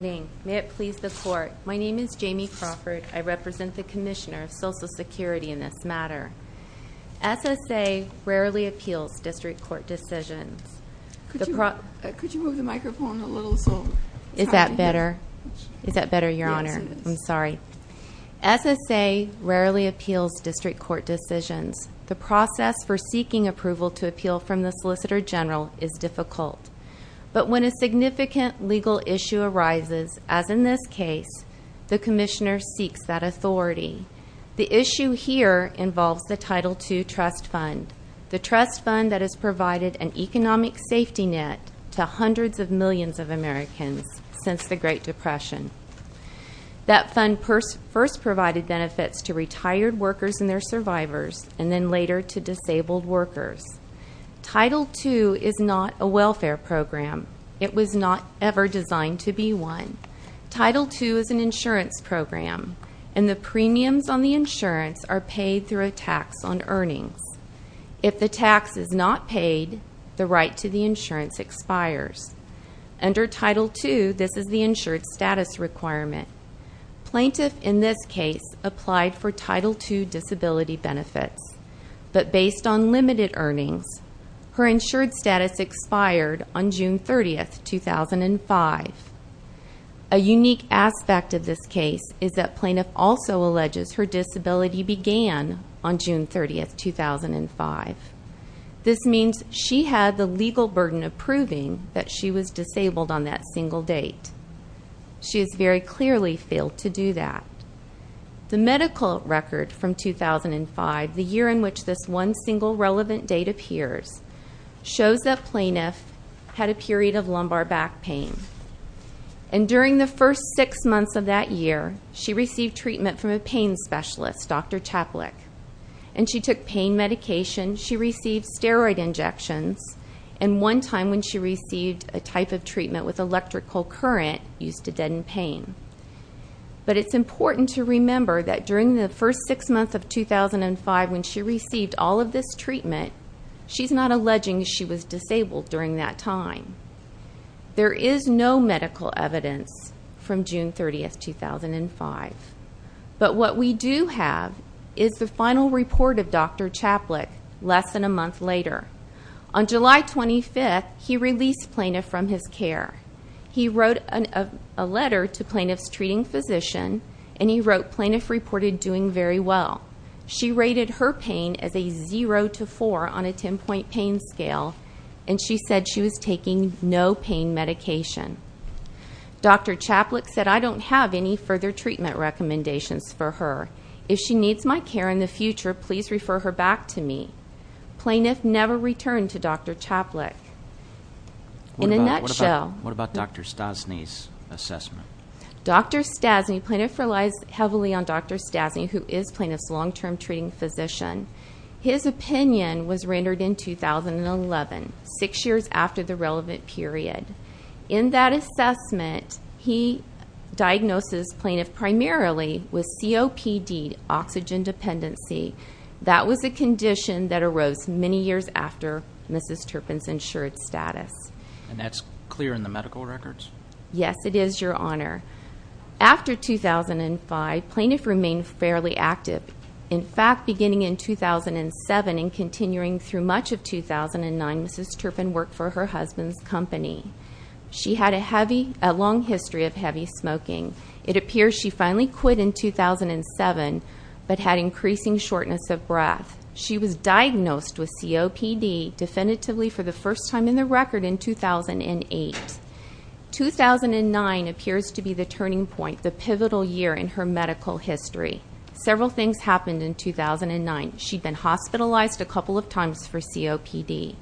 May it please the court. My name is Jamie Crawford. I represent the Commissioner of Social Security in this matter. SSA rarely appeals district court decisions. Could you move the microphone a little so... Is that better? Is that better, Your Honor? I'm sorry. SSA rarely appeals district court decisions. The process for seeking approval to appeal from the Solicitor General is difficult. But when a significant legal issue arises, as in this case, the Commissioner seeks that authority. The issue here involves the Title II Trust Fund. The trust fund that has provided an economic safety net to hundreds of millions of Americans since the Great Depression. That fund first provided benefits to retired workers and their survivors, and then later to disabled workers. Title II is not a welfare program. It was not ever designed to be one. Title II is an insurance program, and the premiums on the insurance are paid through a tax on earnings. If the tax is not paid, the right to the insurance expires. Under Title II, this is the insured status requirement. Plaintiff in this case applied for Title II disability benefits. But based on limited earnings, her insured status expired on June 30, 2005. A unique aspect of this case is that Plaintiff also alleges her disability began on June 30, 2005. This means she had the legal burden of proving that she was disabled on that single date. She has very clearly failed to do that. The medical record from 2005, the year in which this one single relevant date appears, shows that Plaintiff had a period of lumbar back pain. And during the first six months of that year, she received treatment from a pain specialist, Dr. Chaplick. And she took pain medication, she received steroid injections, and one time when she received a type of treatment with electrical current used to deaden pain. But it's important to remember that during the first six months of 2005, when she received all of this treatment, she's not alleging she was disabled during that time. There is no medical evidence from June 30, 2005. But what we do have is the final report of Dr. Chaplick less than a month later. On July 25, he released Plaintiff from his care. He wrote a letter to Plaintiff's treating physician, and he wrote, Plaintiff reported doing very well. She rated her pain as a 0 to 4 on a 10-point pain scale, and she said she was taking no pain medication. Dr. Chaplick said, I don't have any further treatment recommendations for her. If she needs my care in the future, please refer her back to me. Plaintiff never returned to Dr. Chaplick. In a nutshell. What about Dr. Stasny's assessment? Dr. Stasny, Plaintiff relies heavily on Dr. Stasny, who is Plaintiff's long-term treating physician. His opinion was rendered in 2011, six years after the relevant period. In that assessment, he diagnoses Plaintiff primarily with COPD, oxygen dependency. That was a condition that arose many years after Mrs. Turpin's insured status. And that's clear in the medical records? Yes, it is, Your Honor. After 2005, Plaintiff remained fairly active. In fact, beginning in 2007 and continuing through much of 2009, Mrs. Turpin worked for her husband's company. She had a long history of heavy smoking. It appears she finally quit in 2007 but had increasing shortness of breath. She was diagnosed with COPD definitively for the first time in the record in 2008. 2009 appears to be the turning point, the pivotal year in her medical history. Several things happened in 2009. She'd been hospitalized a couple of times for COPD.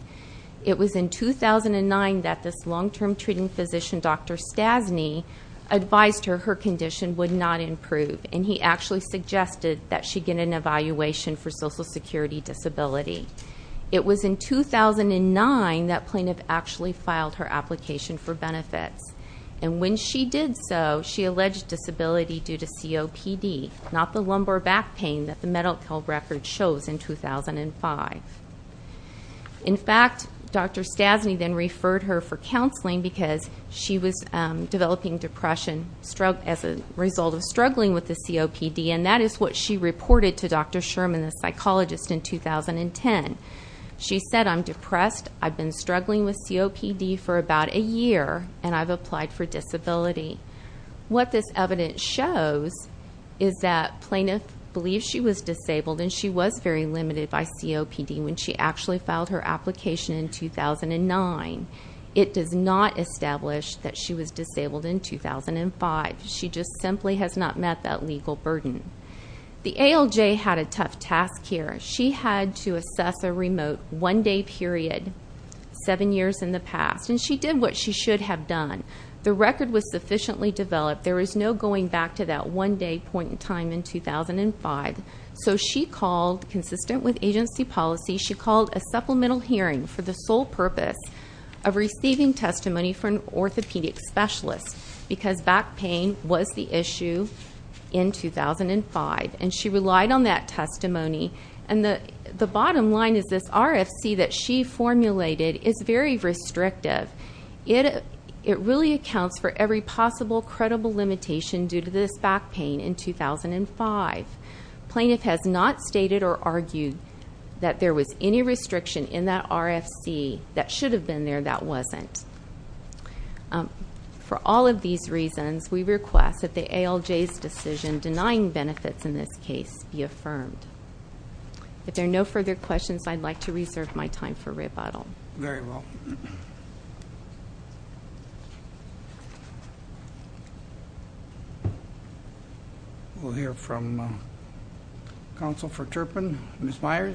It was in 2009 that this long-term treating physician, Dr. Stasny, advised her her condition would not improve, and he actually suggested that she get an evaluation for Social Security Disability. It was in 2009 that Plaintiff actually filed her application for benefits. And when she did so, she alleged disability due to COPD, not the lumbar back pain that the medical record shows in 2005. In fact, Dr. Stasny then referred her for counseling because she was developing depression as a result of struggling with the COPD, and that is what she reported to Dr. Sherman, the psychologist, in 2010. She said, I'm depressed, I've been struggling with COPD for about a year, and I've applied for disability. What this evidence shows is that Plaintiff believes she was disabled and she was very limited by COPD when she actually filed her application in 2009. It does not establish that she was disabled in 2005. She just simply has not met that legal burden. The ALJ had a tough task here. She had to assess a remote one-day period seven years in the past, and she did what she should have done. The record was sufficiently developed. There was no going back to that one-day point in time in 2005. So she called, consistent with agency policy, she called a supplemental hearing for the sole purpose of receiving testimony from an orthopedic specialist because back pain was the issue in 2005. And she relied on that testimony. And the bottom line is this RFC that she formulated is very restrictive. It really accounts for every possible credible limitation due to this back pain in 2005. Plaintiff has not stated or argued that there was any restriction in that RFC that should have been there that wasn't. For all of these reasons, we request that the ALJ's decision denying benefits in this case be affirmed. If there are no further questions, I'd like to reserve my time for rebuttal. Very well. We'll hear from counsel for Turpin. Ms. Myers.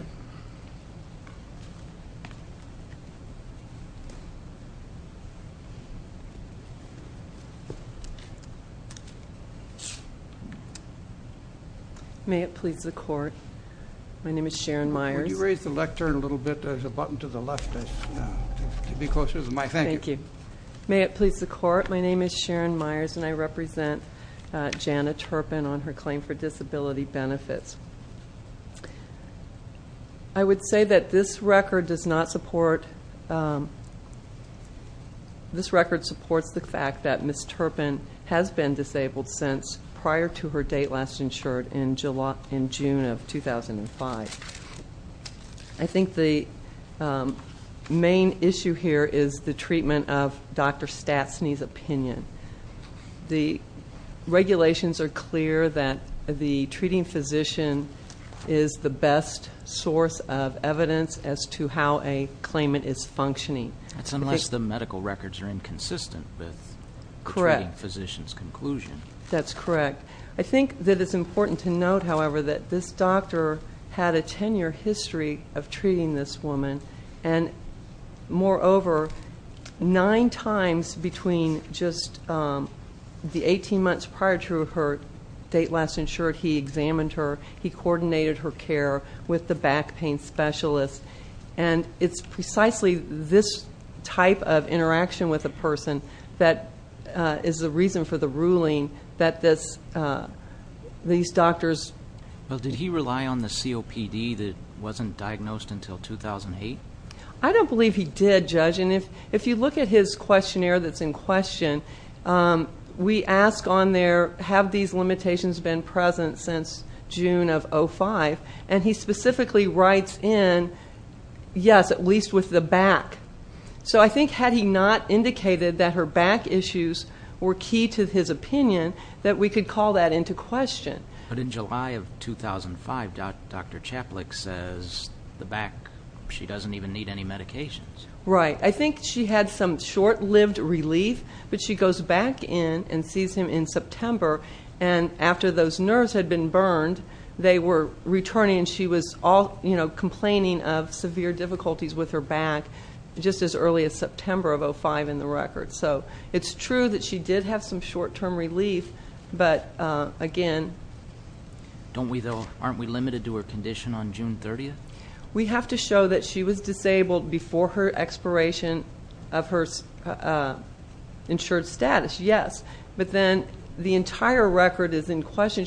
May it please the court. My name is Sharon Myers. Would you raise the lectern a little bit? There's a button to the left. Thank you. May it please the court. My name is Sharon Myers, and I represent Janet Turpin on her claim for disability benefits. I would say that this record does not support, this record supports the fact that Ms. Turpin has been disabled since prior to her date last insured in June of 2005. I think the main issue here is the treatment of Dr. Stastny's opinion. The regulations are clear that the treating physician is the best source of evidence as to how a claimant is functioning. That's unless the medical records are inconsistent with the treating physician's conclusion. That's correct. I think that it's important to note, however, that this doctor had a 10-year history of treating this woman, and moreover, nine times between just the 18 months prior to her date last insured, he examined her, he coordinated her care with the back pain specialist. And it's precisely this type of interaction with a person that is the reason for the ruling that these doctors... Well, did he rely on the COPD that wasn't diagnosed until 2008? I don't believe he did, Judge. And if you look at his questionnaire that's in question, we ask on there, have these limitations been present since June of 2005? And he specifically writes in, yes, at least with the back. So I think had he not indicated that her back issues were key to his opinion, that we could call that into question. But in July of 2005, Dr. Chaplick says the back, she doesn't even need any medications. Right. I think she had some short-lived relief, but she goes back in and sees him in September, and after those nerves had been burned, they were returning, and she was complaining of severe difficulties with her back just as early as September of 2005 in the record. So it's true that she did have some short-term relief, but again... Don't we, though, aren't we limited to her condition on June 30th? We have to show that she was disabled before her expiration of her insured status, yes. But then the entire record is in question.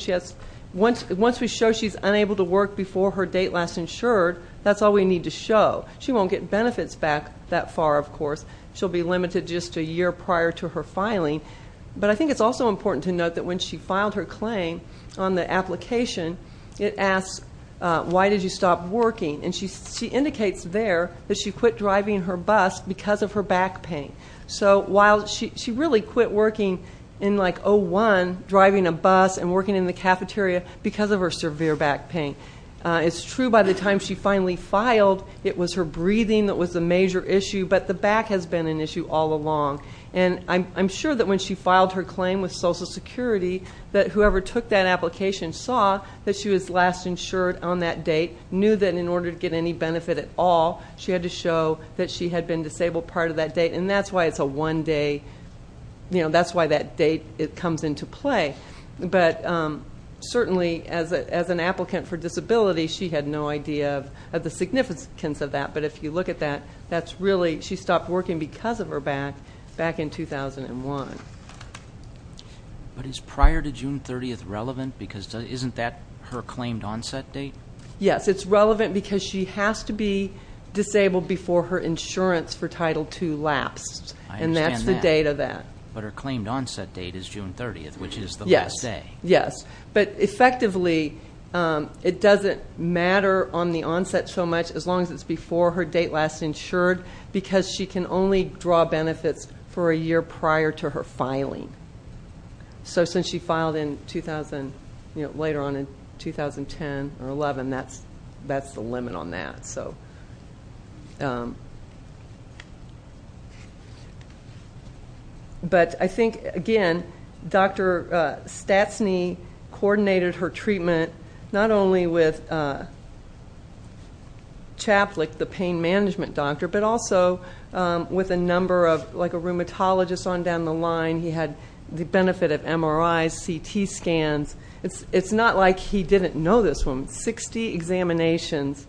Once we show she's unable to work before her date last insured, that's all we need to show. She won't get benefits back that far, of course. She'll be limited just a year prior to her filing. But I think it's also important to note that when she filed her claim on the application, it asks, why did you stop working? And she indicates there that she quit driving her bus because of her back pain. So while she really quit working in, like, 01, driving a bus and working in the cafeteria, because of her severe back pain. It's true by the time she finally filed, it was her breathing that was a major issue, but the back has been an issue all along. And I'm sure that when she filed her claim with Social Security, that whoever took that application saw that she was last insured on that date, knew that in order to get any benefit at all, she had to show that she had been disabled part of that date, and that's why it's a one-day, you know, that's why that date comes into play. But certainly as an applicant for disability, she had no idea of the significance of that. But if you look at that, that's really, she stopped working because of her back back in 2001. But is prior to June 30th relevant? Because isn't that her claimed onset date? Yes, it's relevant because she has to be disabled before her insurance for Title II lapsed, and that's the date of that. But her claimed onset date is June 30th, which is the last day. Yes, yes. But effectively, it doesn't matter on the onset so much as long as it's before her date last insured, because she can only draw benefits for a year prior to her filing. So since she filed in 2000, you know, later on in 2010 or 11, that's the limit on that. But I think, again, Dr. Stastny coordinated her treatment not only with Chaplick, the pain management doctor, but also with a number of, like, a rheumatologist on down the line. He had the benefit of MRIs, CT scans. It's not like he didn't know this woman. Sixty examinations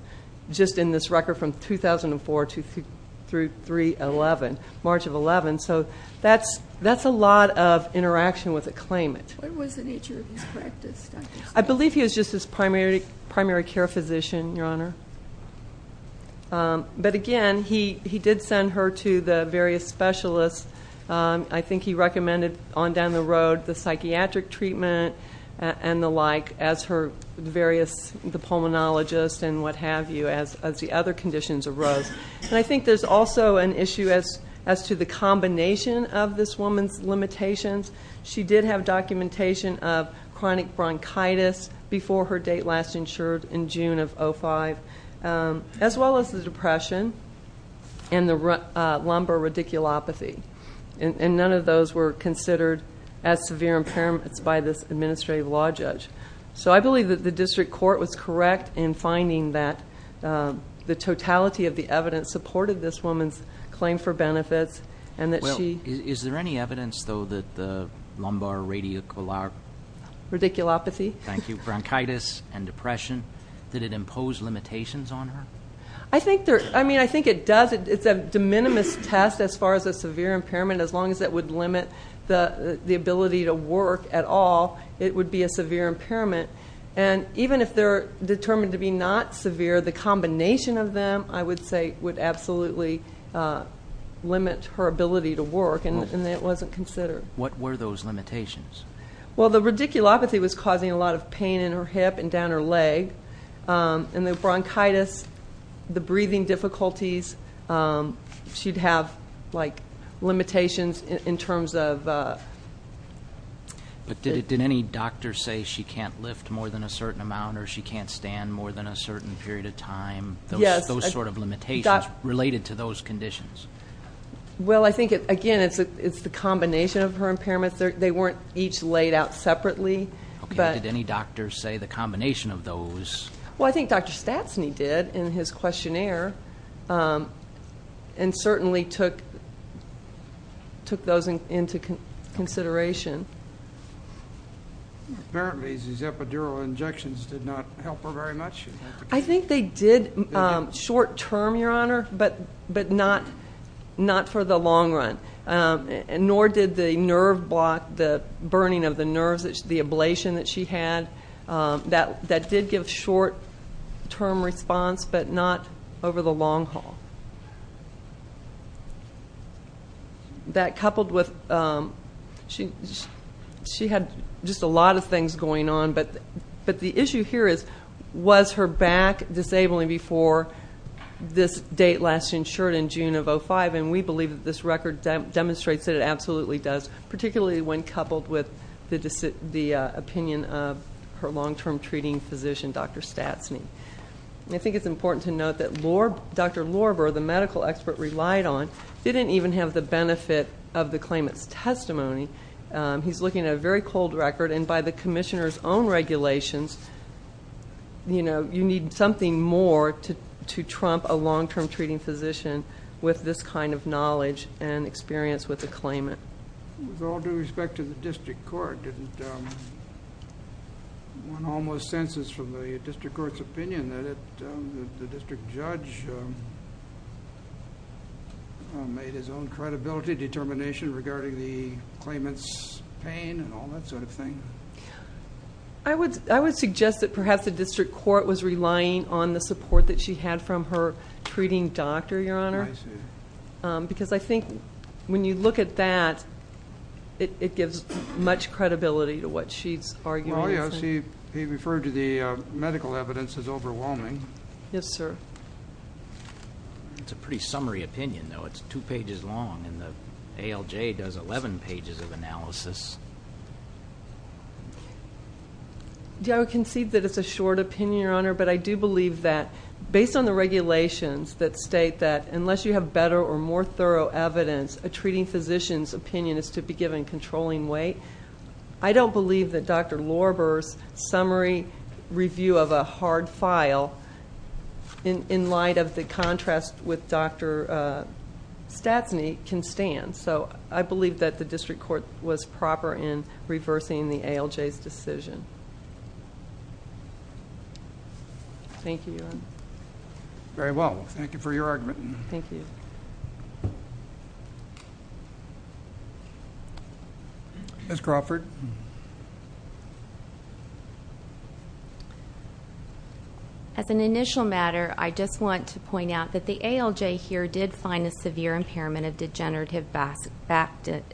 just in this record from 2004 through 3-11, March of 11. So that's a lot of interaction with a claimant. What was the nature of his practice, Dr. Stastny? I believe he was just his primary care physician, Your Honor. But, again, he did send her to the various specialists. I think he recommended on down the road the psychiatric treatment and the like, as her various pulmonologists and what have you, as the other conditions arose. And I think there's also an issue as to the combination of this woman's limitations. She did have documentation of chronic bronchitis before her date last insured in June of 2005, as well as the depression and the lumbar radiculopathy. And none of those were considered as severe impairments by this administrative law judge. So I believe that the district court was correct in finding that the totality of the evidence supported this woman's claim for benefits. Is there any evidence, though, that the lumbar radiculopathy, bronchitis and depression, did it impose limitations on her? I think it does. It's a de minimis test as far as a severe impairment. As long as it would limit the ability to work at all, it would be a severe impairment. And even if they're determined to be not severe, the combination of them, I would say, would absolutely limit her ability to work, and it wasn't considered. What were those limitations? Well, the radiculopathy was causing a lot of pain in her hip and down her leg, and the bronchitis, the breathing difficulties, she'd have, like, limitations in terms of- But did any doctor say she can't lift more than a certain amount or she can't stand more than a certain period of time? Yes. Those sort of limitations related to those conditions? Well, I think, again, it's the combination of her impairments. They weren't each laid out separately. Okay. Did any doctor say the combination of those? Well, I think Dr. Statsney did in his questionnaire and certainly took those into consideration. Apparently, these epidural injections did not help her very much. I think they did short-term, Your Honor, but not for the long run, nor did the nerve block, the burning of the nerves, the ablation that she had. That did give short-term response, but not over the long haul. That coupled with-she had just a lot of things going on, but the issue here is was her back disabling before this date last insured in June of 2005, and we believe that this record demonstrates that it absolutely does, particularly when coupled with the opinion of her long-term treating physician, Dr. Statsney. I think it's important to note that Dr. Lorber, the medical expert relied on, didn't even have the benefit of the claimant's testimony. He's looking at a very cold record, and by the commissioner's own regulations, you need something more to trump a long-term treating physician with this kind of knowledge and experience with the claimant. With all due respect to the district court, one almost senses from the district court's opinion that the district judge made his own credibility determination regarding the claimant's pain and all that sort of thing. I would suggest that perhaps the district court was relying on the support that she had from her treating doctor, Your Honor, because I think when you look at that, it gives much credibility to what she's arguing. Well, yes. He referred to the medical evidence as overwhelming. Yes, sir. It's a pretty summary opinion, though. It's two pages long, and the ALJ does 11 pages of analysis. I would concede that it's a short opinion, Your Honor, but I do believe that based on the regulations that state that unless you have better or more thorough evidence, a treating physician's opinion is to be given controlling weight. I don't believe that Dr. Lorber's summary review of a hard file, in light of the contrast with Dr. Statsney, can stand, so I believe that the district court was proper in reversing the ALJ's decision. Thank you, Your Honor. Very well. Thank you for your argument. Thank you. Ms. Crawford. Ms. Crawford. As an initial matter, I just want to point out that the ALJ here did find a severe impairment of degenerative back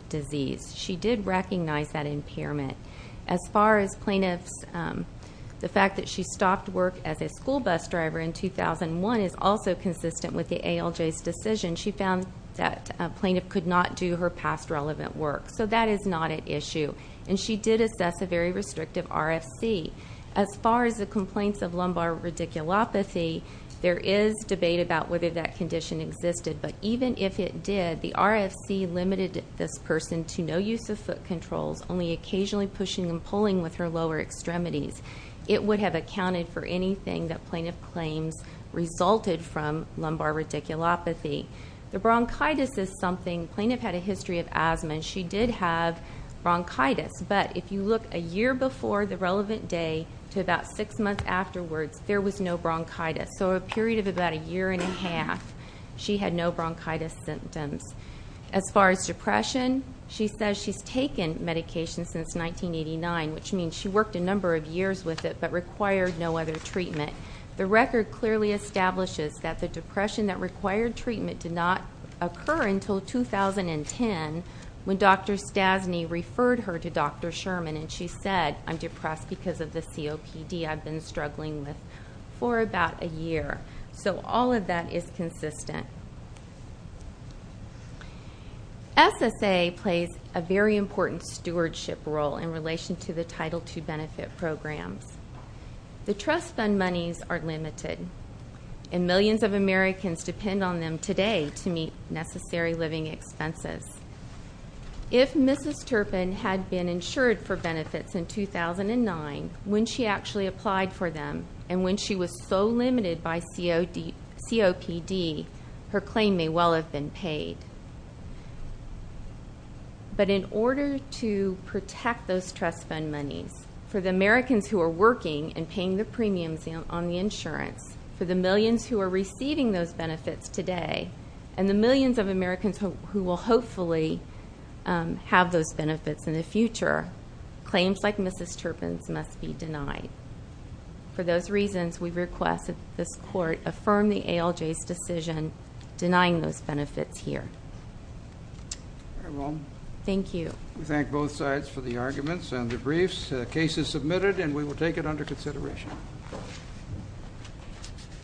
disease. She did recognize that impairment. As far as plaintiffs, the fact that she stopped work as a school bus driver in 2001 is also consistent with the ALJ's decision. She found that a plaintiff could not do her past relevant work, so that is not at issue. And she did assess a very restrictive RFC. As far as the complaints of lumbar radiculopathy, there is debate about whether that condition existed, but even if it did, the RFC limited this person to no use of foot controls, only occasionally pushing and pulling with her lower extremities. It would have accounted for anything that plaintiff claims resulted from lumbar radiculopathy. The bronchitis is something plaintiff had a history of asthma, and she did have bronchitis. But if you look a year before the relevant day to about six months afterwards, there was no bronchitis. So a period of about a year and a half, she had no bronchitis symptoms. As far as depression, she says she's taken medication since 1989, which means she worked a number of years with it but required no other treatment. The record clearly establishes that the depression that required treatment did not occur until 2010 when Dr. Stasny referred her to Dr. Sherman, and she said, I'm depressed because of the COPD I've been struggling with for about a year. So all of that is consistent. SSA plays a very important stewardship role in relation to the Title II benefit programs. The trust fund monies are limited, and millions of Americans depend on them today to meet necessary living expenses. If Mrs. Turpin had been insured for benefits in 2009 when she actually applied for them and when she was so limited by COPD, her claim may well have been paid. But in order to protect those trust fund monies for the Americans who are working and paying the premiums on the insurance for the millions who are receiving those benefits today and the millions of Americans who will hopefully have those benefits in the future, claims like Mrs. Turpin's must be denied. For those reasons, we request that this Court affirm the ALJ's decision denying those benefits here. Thank you. We thank both sides for the arguments and the briefs. The case is submitted, and we will take it under consideration.